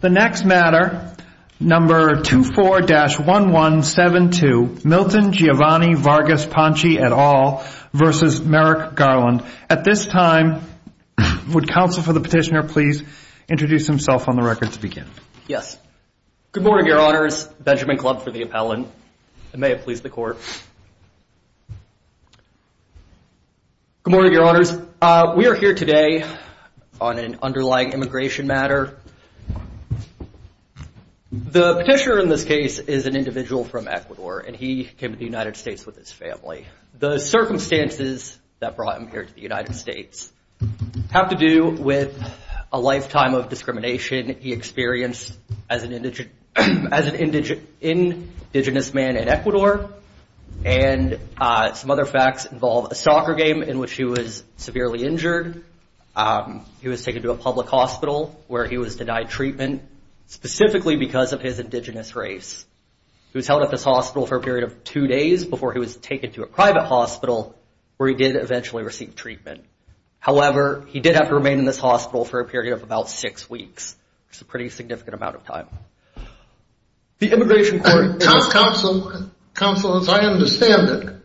The next matter, number 24-1172, Milton Giovanni Vargas Panchi et al. v. Merrick Garland. At this time, would counsel for the petitioner please introduce himself on the record to begin? Yes. Good morning, your honors. Benjamin Clubb for the appellant. I may have pleased the court. Good morning, your honors. We are here today on an underlying immigration matter. The petitioner in this case is an individual from Ecuador, and he came to the United States with his family. The circumstances that brought him here to the United States have to do with a lifetime of discrimination he experienced as an indigenous man in Ecuador, and some other facts involve a soccer game in which he was severely injured. He was taken to a public hospital where he was denied treatment, specifically because of his indigenous race. He was held at this hospital for a period of two days before he was taken to a private hospital where he did eventually receive treatment. However, he did have to remain in this hospital for a period of about six weeks, which is a pretty significant amount of time. Counsel, as I understand it,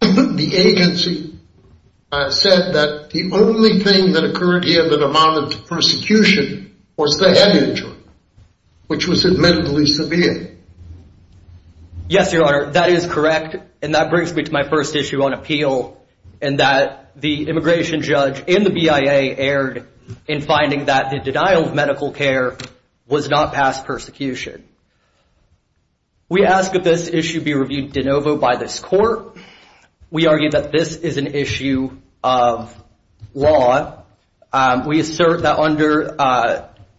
the agency said that the only thing that occurred here that amounted to persecution was the head injury, which was admittedly severe. Yes, your honor, that is correct, and that brings me to my first issue on appeal, in that the immigration judge in the BIA erred in finding that the denial of medical care was not past persecution. We ask that this issue be reviewed de novo by this court. We argue that this is an issue of law. We assert that under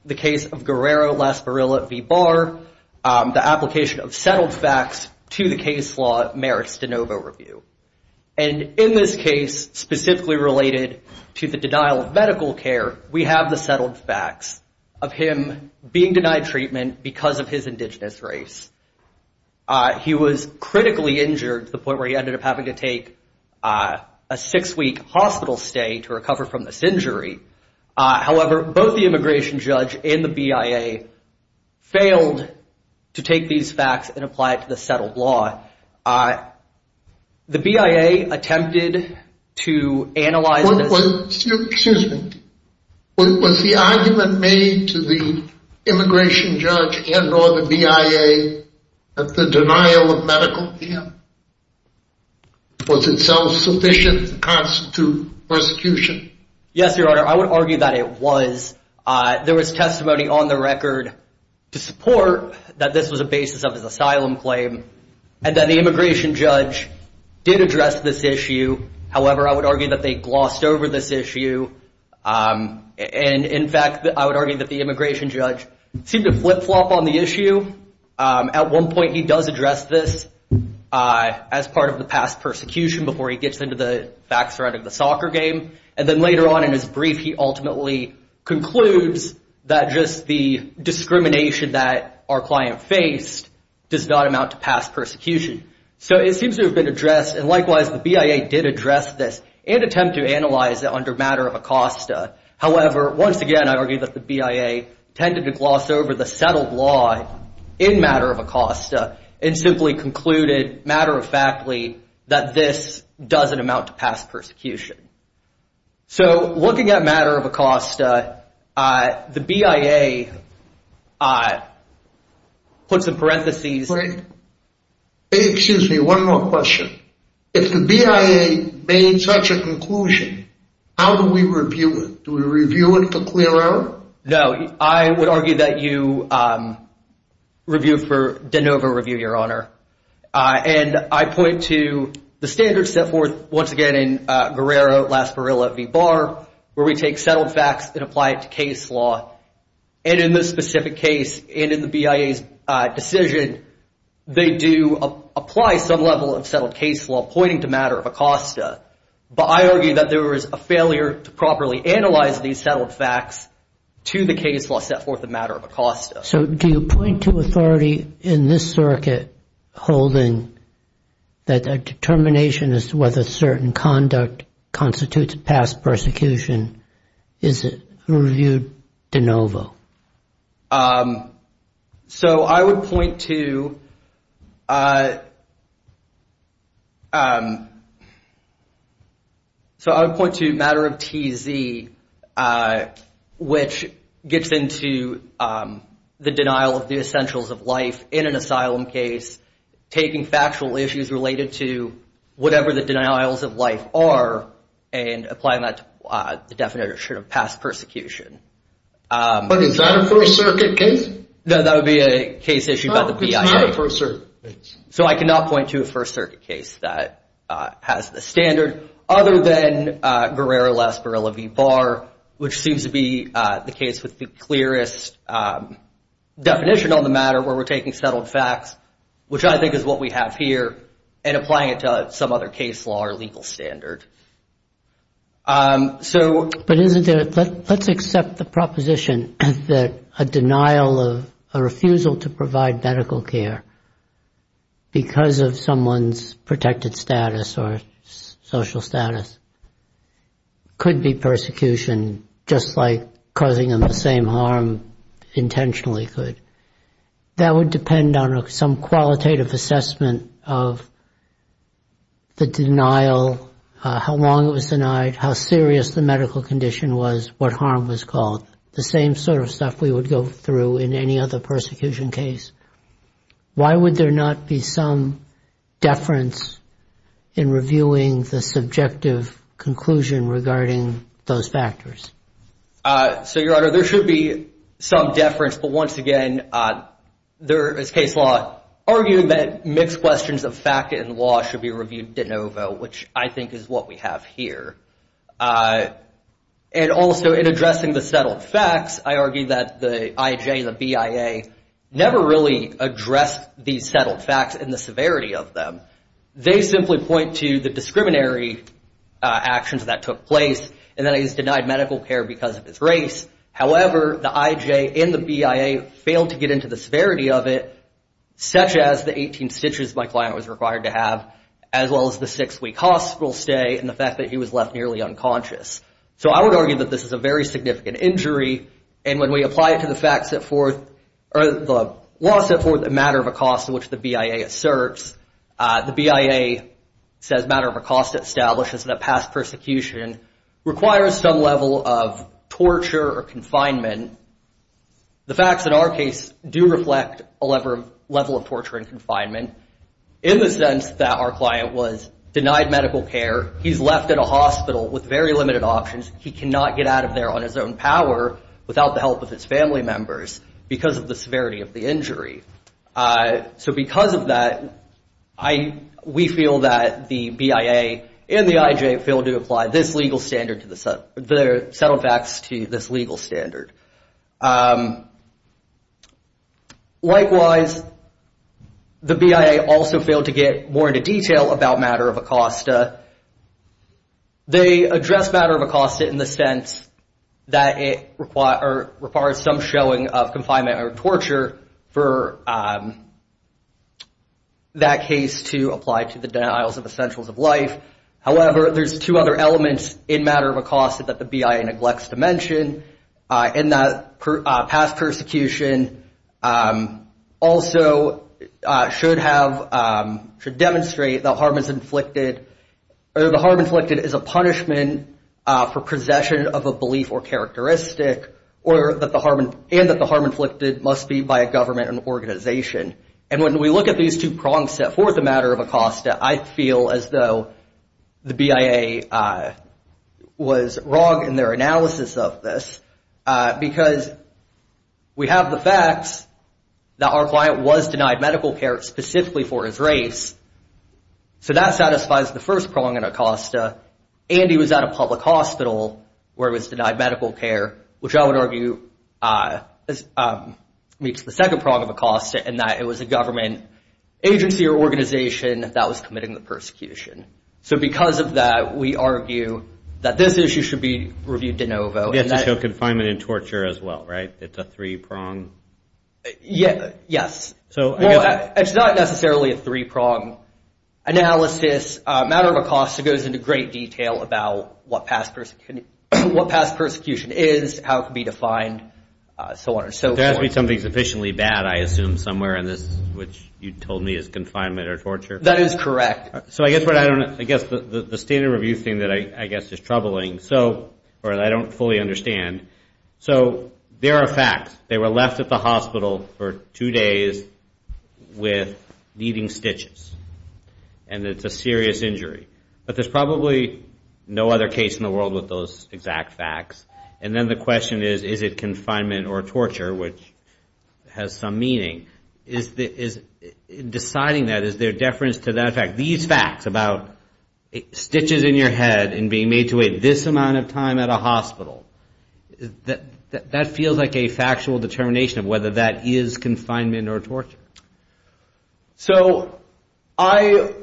the case of Guerrero-Las Barrillas v. Barr, the application of settled facts to the case law merits de novo review. And in this case, specifically related to the denial of medical care, we have the settled facts of him being denied treatment because of his indigenous race. He was critically injured to the point where he ended up having to take a six-week hospital stay to recover from this injury. However, both the immigration judge and the BIA failed to take these facts and apply it to the settled law. The BIA attempted to analyze this. Excuse me. Was the argument made to the immigration judge and or the BIA that the denial of medical care was itself sufficient to constitute persecution? Yes, your honor, I would argue that it was. There was testimony on the record to support that this was a basis of his asylum claim, and that the immigration judge did address this issue. However, I would argue that they glossed over this issue. And in fact, I would argue that the immigration judge seemed to flip-flop on the issue. At one point, he does address this as part of the past persecution before he gets into the facts around the soccer game. And then later on in his brief, he ultimately concludes that just the discrimination that our client faced does not amount to past persecution. So it seems to have been addressed. And likewise, the BIA did address this and attempt to analyze it under matter of Acosta. However, once again, I would argue that the BIA tended to gloss over the settled law in matter of Acosta and simply concluded matter of factly that this doesn't amount to past persecution. So looking at matter of Acosta, the BIA puts in parentheses. Excuse me, one more question. If the BIA made such a conclusion, how do we review it? Do we review it for clear error? No, I would argue that you review for de novo review, Your Honor. And I point to the standards set forth, once again, in Guerrero, Lasparilla v. Barr, where we take settled facts and apply it to case law. And in this specific case and in the BIA's decision, they do apply some level of settled case law pointing to matter of Acosta. But I argue that there is a failure to properly analyze these settled facts to the case law set forth in matter of Acosta. So do you point to authority in this circuit holding that a determination as to whether certain conduct constitutes past persecution? Is it reviewed de novo? So I would point to matter of TZ, which gets into the denial of the essentials of life in an asylum case, taking factual issues related to whatever the denials of life are and applying that to the definition of past persecution. But is that a First Circuit case? No, that would be a case issued by the BIA. It's not a First Circuit case. So I cannot point to a First Circuit case that has the standard other than Guerrero, Lasparilla v. Barr, which seems to be the case with the clearest definition on the matter, where we're taking settled facts, which I think is what we have here, and applying it to some other case law or legal standard. But let's accept the proposition that a denial of a refusal to provide medical care because of someone's protected status or social status could be persecution, just like causing them the same harm intentionally could. That would depend on some qualitative assessment of the denial, how long it was denied, how serious the medical condition was, what harm was called, the same sort of stuff we would go through in any other persecution case. Why would there not be some deference in reviewing the subjective conclusion regarding those factors? So, Your Honor, there should be some deference. But once again, there is case law arguing that mixed questions of fact and law should be reviewed de novo, which I think is what we have here. And also, in addressing the settled facts, I argue that the IJ and the BIA never really addressed these settled facts and the severity of them. They simply point to the discriminatory actions that took place, and that is denied medical care because of its race. However, the IJ and the BIA failed to get into the severity of it, such as the 18 stitches my client was required to have, as well as the six-week hospital stay and the fact that he was left nearly unconscious. So, I would argue that this is a very significant injury. And when we apply it to the fact set forth, or the law set forth a matter of a cost in which the BIA asserts, the BIA says matter of a cost establishes that a past persecution requires some level of torture or confinement. The facts in our case do reflect a level of torture and confinement in the sense that our client was denied medical care. He's left in a hospital with very limited options. He cannot get out of there on his own power without the help of his family members because of the severity of the injury. So, because of that, we feel that the BIA and the IJ failed to apply this legal standard to the settled facts to this legal standard. Likewise, the BIA also failed to get more into detail about matter of a cost. They address matter of a cost in the sense that it requires some showing of confinement or torture for that case to apply to the denials of essentials of life. However, there's two other elements in matter of a cost that the BIA neglects to mention in that past persecution also should have to demonstrate the harm is inflicted or the harm inflicted is a punishment for possession of a belief or characteristic and that the harm inflicted must be by a government and organization. And when we look at these two prongs set forth a matter of a cost, I feel as though the BIA was wrong in their analysis of this because we have the facts that our client was denied medical care specifically for his race. So, that satisfies the first prong in a cost. And he was at a public hospital where it was denied medical care, which I would argue meets the second prong of a cost and that it was a government agency or organization that was committing the persecution. So, because of that, we argue that this issue should be reviewed de novo. It's also confinement and torture as well, right? It's a three prong. Yeah, yes. So, it's not necessarily a three prong analysis. Matter of a cost goes into great detail about what past persecution is, how it can be defined, so on and so forth. There has to be something sufficiently bad, I assume, somewhere in this, which you told me is confinement or torture. That is correct. So, I guess the standard review thing that I guess is troubling, or I don't fully understand. So, there are facts. They were left at the hospital for two days with needing stitches. And it's a serious injury. But there's probably no other case in the world with those exact facts. And then the question is, is it confinement or torture, which has some meaning? Is deciding that, is there deference to that fact? These facts about stitches in your head and being made to wait this amount of time at a hospital, that feels like a factual determination of whether that is confinement or torture. So, I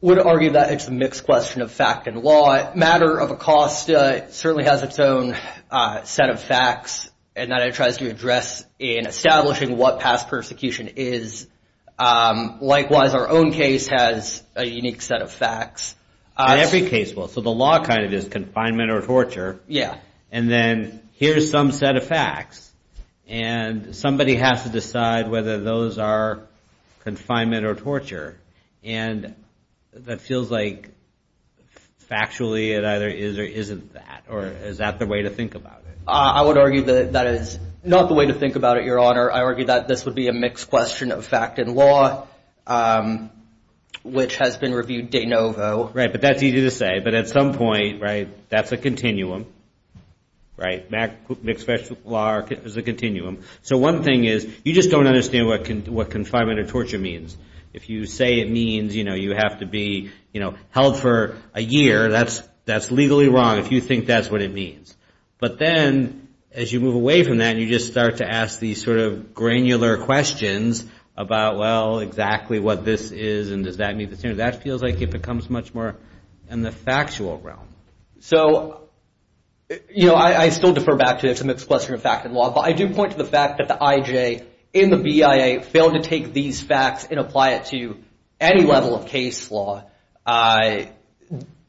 would argue that it's a mixed question of fact and law. Matter of a cost certainly has its own set of facts and that it tries to address in establishing what past persecution is. Likewise, our own case has a unique set of facts. Every case will. So, the law kind of is confinement or torture. Yeah. And then here's some set of facts. And somebody has to decide whether those are confinement or torture. And that feels like, factually, it either is or isn't that. Or is that the way to think about it? I would argue that that is not the way to think about it, Your Honor. I argue that this would be a mixed question of fact and law, which has been reviewed de novo. Right. But that's easy to say. But at some point, right, that's a continuum. Right. That mixed question of law is a continuum. So, one thing is, you just don't understand what confinement or torture means. If you say it means you have to be held for a year, that's legally wrong, if you think that's what it means. But then, as you move away from that, you just start to ask these sort of granular questions about, well, exactly what this is and does that meet the standard. That feels like it becomes much more in the factual realm. So, you know, I still defer back to the mixed question of fact and law. But I do point to the fact that the IJ in the BIA failed to take these facts and apply it to any level of case law. I,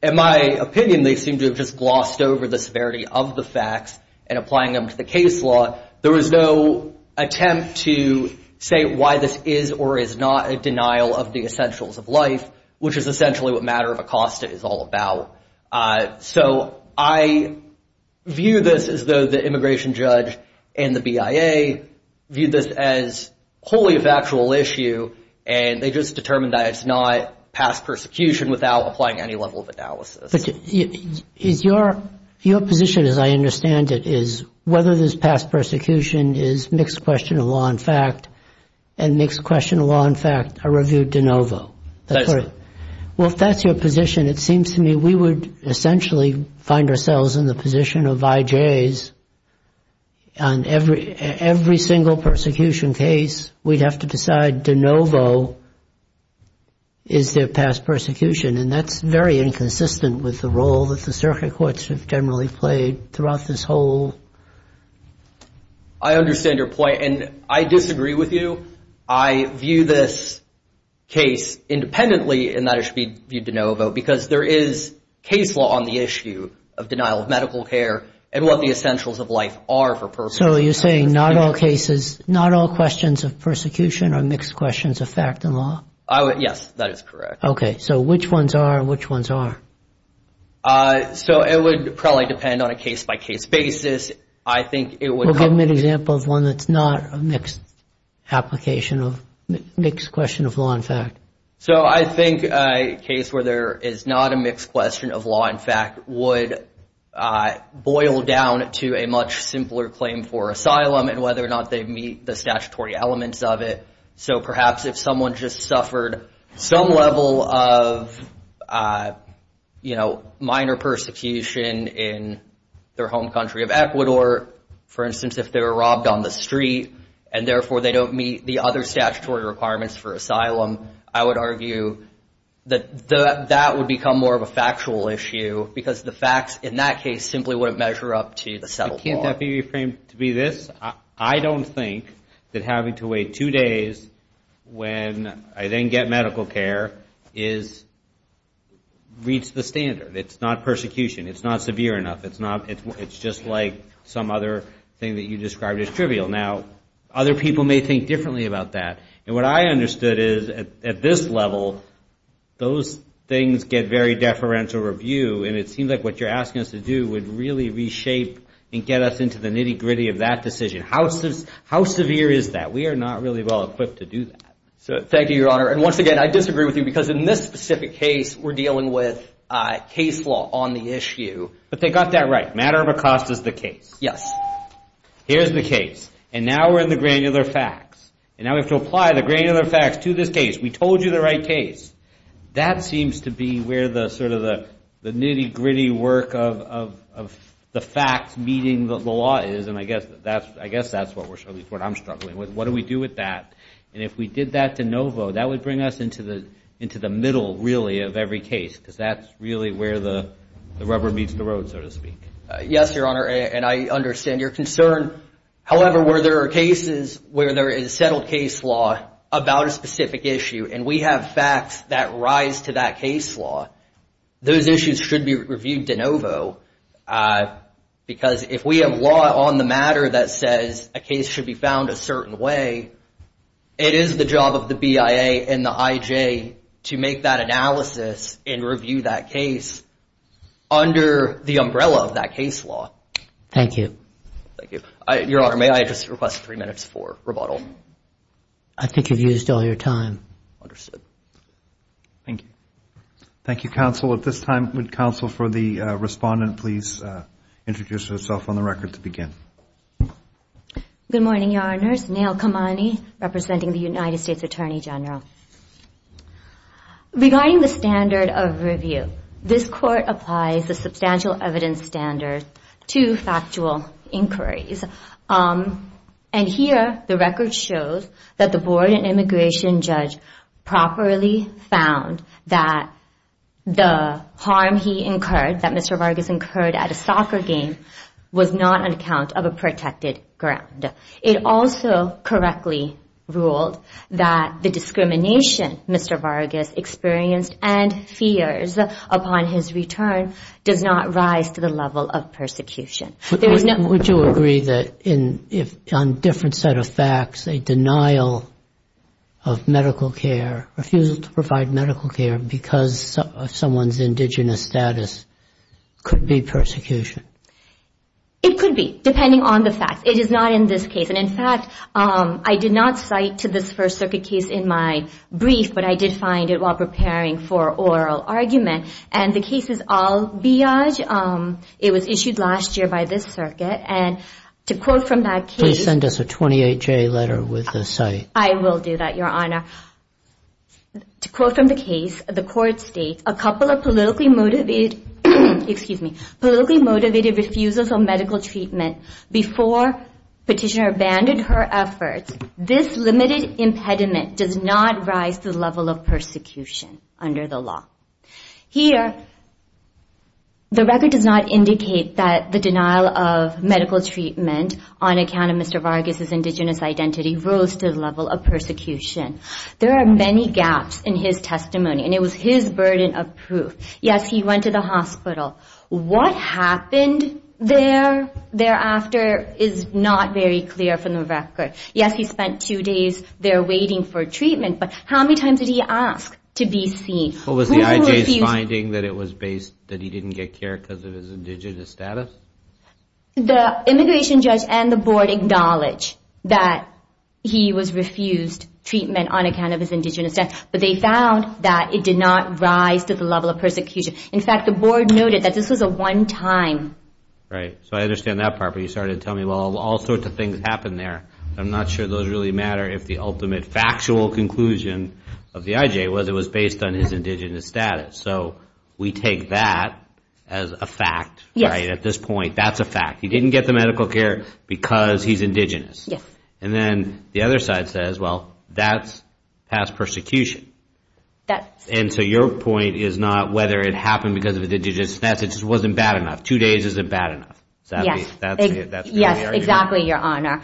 in my opinion, they seem to have just glossed over the severity of the facts and applying them to the case law. There was no attempt to say why this is or is not a denial of the essentials of life, which is essentially what Matter of Acosta is all about. So, I view this as though the immigration judge and the BIA viewed this as wholly a factual issue. And they just determined that it's not past persecution without applying any level of analysis. But is your position, as I understand it, is whether this past persecution is mixed question of law and fact and mixed question of law and fact are reviewed de novo. Well, if that's your position, it seems to me we would essentially find ourselves in the position of IJs on every single persecution case. We'd have to decide de novo is their past persecution. And that's very inconsistent with the role that the circuit courts have generally played throughout this whole. I understand your point. And I disagree with you. I view this case independently in that it should be viewed de novo because there is case law on the issue of denial of medical care and what the essentials of life are for persecution. So, you're saying not all cases, not all questions of persecution are mixed questions of fact and law? Yes, that is correct. Okay. So, which ones are and which ones are? So, it would probably depend on a case by case basis. I think it would... Well, give me an example of one that's not a mixed application of mixed question of law and fact. So, I think a case where there is not a mixed question of law and fact would boil down to a much simpler claim for asylum and whether or not they meet the statutory elements of it. So, perhaps if someone just suffered some level of minor persecution in their home country of Ecuador, for instance, if they were robbed on the street and therefore they don't meet the other statutory requirements for asylum, I would argue that that would become more of a factual issue because the facts in that case simply wouldn't measure up to the settled law. Can't that be reframed to be this? I don't think that having to wait two days when I then get medical care is reach the standard. It's not persecution. It's not severe enough. It's just like some other thing that you described as trivial. Now, other people may think differently about that. And what I understood is at this level, those things get very deferential review. And it seems like what you're asking us to do would really reshape and get us into the nitty-gritty of that decision. How severe is that? We are not really well equipped to do that. So, thank you, Your Honor. And once again, I disagree with you because in this specific case, we're dealing with case law on the issue. But they got that right. Matter of a cost is the case. Yes. Here's the case. And now we're in the granular facts. And now we have to apply the granular facts to this case. We told you the right case. That seems to be where the nitty-gritty work of the facts meeting the law is. And I guess that's what I'm struggling with. What do we do with that? And if we did that to Novo, that would bring us into the middle, really, of every case because that's really where the rubber meets the road, so to speak. Yes, Your Honor. And I understand your concern. However, where there are cases where there is settled case law about a specific issue and we have facts that rise to that case law, those issues should be reviewed to Novo. Because if we have law on the matter that says a case should be found a certain way, it is the job of the BIA and the IJ to make that analysis and review that case under the umbrella of that case law. Thank you. Thank you. Your Honor, may I just request three minutes for rebuttal? I think you've used all your time. Thank you. Thank you, counsel. At this time, would counsel for the respondent please introduce herself on the record to begin? Good morning, Your Honors. Nail Kamani, representing the United States Attorney General. Regarding the standard of review, this court applies the substantial evidence standard to factual inquiries. And here, the record shows that the board and immigration judge properly found that the harm he incurred, that Mr. Vargas incurred at a soccer game, was not on account of a protected ground. It also correctly ruled that the discrimination Mr. Vargas experienced and fears upon his return does not rise to the level of persecution. Would you agree that on a different set of facts, a denial of medical care, refusal to provide medical care because of someone's indigenous status could be persecution? It could be, depending on the facts. It is not in this case. And in fact, I did not cite to this First Circuit case in my brief, but I did find it while preparing for oral argument. And the case is Al-Biyaj. It was issued last year by this circuit. And to quote from that case... Please send us a 28-J letter with the site. I will do that, Your Honor. To quote from the case, the court states, a couple of politically motivated, excuse me, politically motivated refusals of medical treatment before petitioner abandoned her efforts, this limited impediment does not rise to the level of persecution under the law. Here, the record does not indicate that the denial of medical treatment on account of Mr. Vargas' indigenous identity rose to the level of persecution. There are many gaps in his testimony, and it was his burden of proof. Yes, he went to the hospital. What happened there thereafter is not very clear from the record. Yes, he spent two days there waiting for treatment, but how many times did he ask to be seen? What was the IJ's finding, that it was based, that he didn't get care because of his indigenous status? The immigration judge and the board acknowledge that he was refused treatment on account of his indigenous status, but they found that it did not rise to the level of persecution. In fact, the board noted that this was a one-time. Right, so I understand that part. But you started to tell me, well, all sorts of things happened there. I'm not sure those really matter if the ultimate factual conclusion of the IJ was it was based on his indigenous status. So we take that as a fact, right? At this point, that's a fact. He didn't get the medical care because he's indigenous. And then the other side says, well, that's past persecution. And so your point is not whether it happened because of his indigenous status. It just wasn't bad enough. Two days isn't bad enough. Yes, exactly, Your Honor.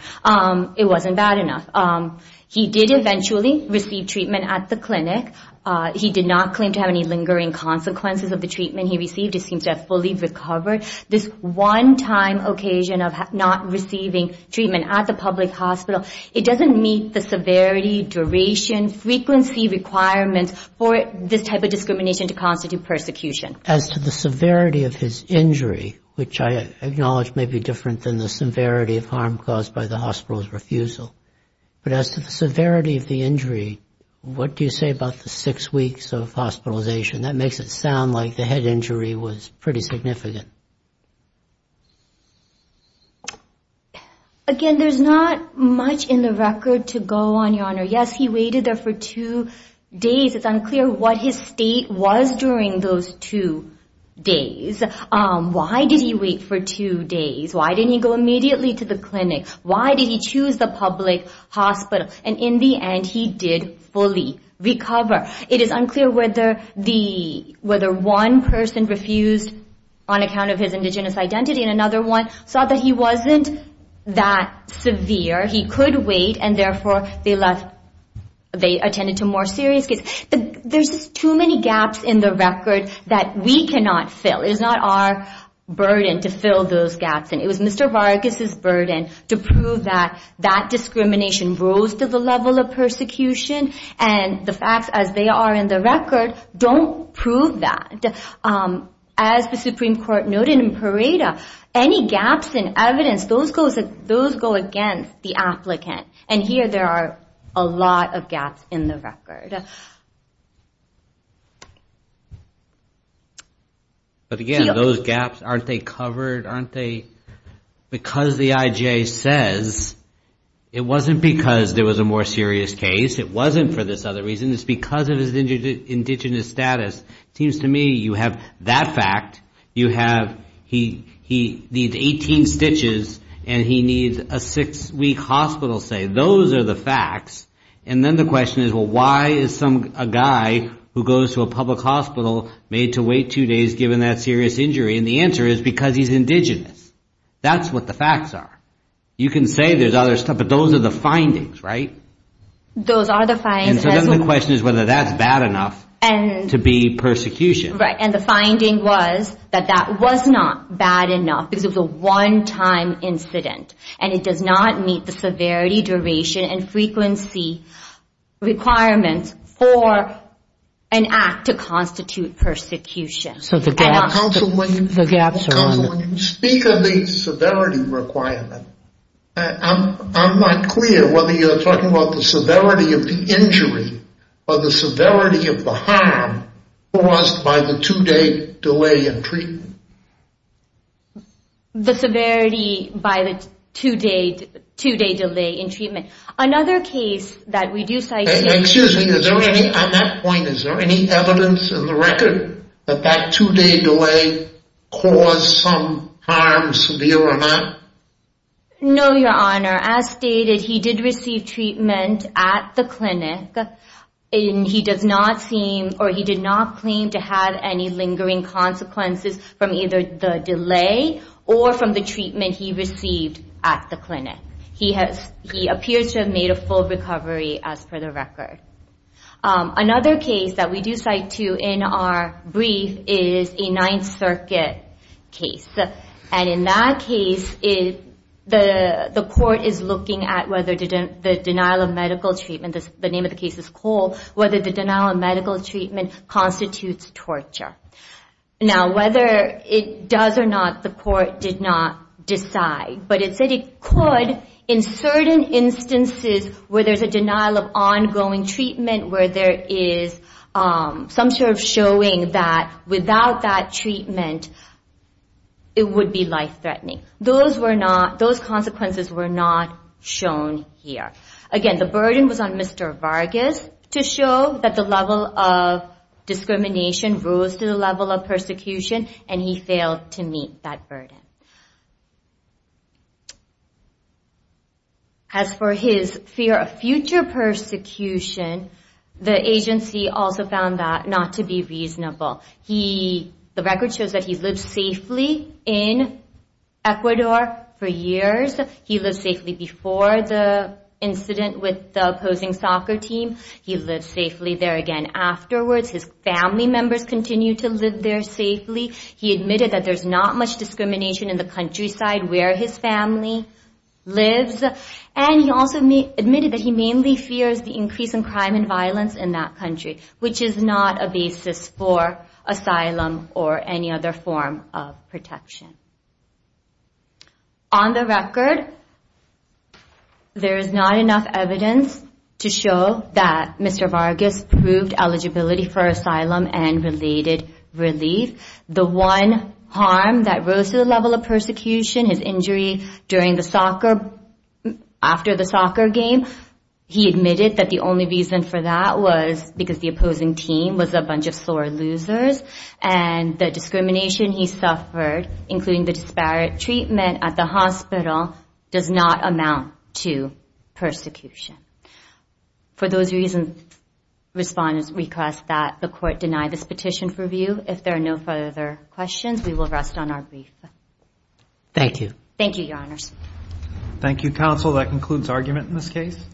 It wasn't bad enough. He did eventually receive treatment at the clinic. He did not claim to have any lingering consequences of the treatment he received. He seems to have fully recovered. This one-time occasion of not receiving treatment at the public hospital, it doesn't meet the severity, duration, frequency requirements for this type of discrimination to constitute persecution. As to the severity of his injury, which I acknowledge may be different than the severity of harm caused by the hospital's refusal, but as to the severity of the injury, what do you say about the six weeks of hospitalization? That makes it sound like the head injury was pretty significant. Again, there's not much in the record to go on, Your Honor. Yes, he waited there for two days. It's unclear what his state was during those two days. Why did he wait for two days? Why didn't he go immediately to the clinic? Why did he choose the public hospital? In the end, he did fully recover. It is unclear whether one person refused on account of his indigenous identity and another one saw that he wasn't that severe. He could wait, and therefore, they attended to more serious cases. There's just too many gaps in the record that we cannot fill. It is not our burden to fill those gaps. It was Mr. Vargas' burden to prove that that discrimination rose to the level of persecution, and the facts as they are in the record don't prove that. As the Supreme Court noted in Pareto, any gaps in evidence, those go against the applicant, and here there are a lot of gaps in the record. But again, those gaps, aren't they covered? Because the IJ says it wasn't because there was a more serious case, it wasn't for this other reason. It's because of his indigenous status. It seems to me you have that fact. You have he needs 18 stitches, and he needs a six-week hospital stay. Those are the facts. And then the question is, well, why is a guy who goes to a public hospital made to wait two days given that serious injury? And the answer is because he's indigenous. That's what the facts are. You can say there's other stuff, but those are the findings, right? Those are the findings. And so then the question is whether that's bad enough to be persecution. Right. And the finding was that that was not bad enough because it was a one-time incident, and it does not meet the severity, duration, and frequency requirements for an act to constitute persecution. So the gaps are on there. Speak of the severity requirement, I'm not clear whether you're talking about the severity of the injury or the severity of the harm caused by the two-day delay in treatment. The severity by the two-day delay in treatment. Another case that we do cite here... Excuse me. Is there any, at that point, is there any evidence in the record that that two-day delay caused some harm, severe or not? No, Your Honor. As stated, he did receive treatment at the clinic, and he does not seem or he did not claim to have any lingering consequences from either the delay or from the treatment he received at the clinic. He appears to have made a full recovery as per the record. Another case that we do cite too in our brief is a Ninth Circuit case. And in that case, the court is looking at whether the denial of medical treatment, the name of the case is Cole, whether the denial of medical treatment constitutes torture. Now, whether it does or not, the court did not decide, but it said it could in certain instances where there's a denial of ongoing treatment, where there is some sort of showing that without that treatment, it would be life-threatening. Those consequences were not shown here. Again, the burden was on Mr. Vargas to show that the level of discrimination rose to the level of persecution, and he failed to meet that burden. As for his fear of future persecution, the agency also found that not to be reasonable. The record shows that he lived safely in Ecuador for years. He lived safely before the incident with the opposing soccer team. He lived safely there again afterwards. His family members continue to live there safely. He admitted that there's not much discrimination in the countryside where his family lives. And he also admitted that he mainly fears the increase in crime and violence in that country, which is not a basis for asylum or any other form of protection. On the record, there is not enough evidence to show that Mr. Vargas proved eligibility for asylum and related relief. The one harm that rose to the level of persecution, his injury during the soccer, after the soccer game, he admitted that the only reason for that was because the opposing team was a bunch of sore losers. And the discrimination he suffered, including the disparate treatment at the hospital, does not amount to persecution. For those reasons, I respond and request that the court deny this petition for review. If there are no further questions, we will rest on our brief. Thank you. Thank you, Your Honors. Thank you, counsel. That concludes argument in this case.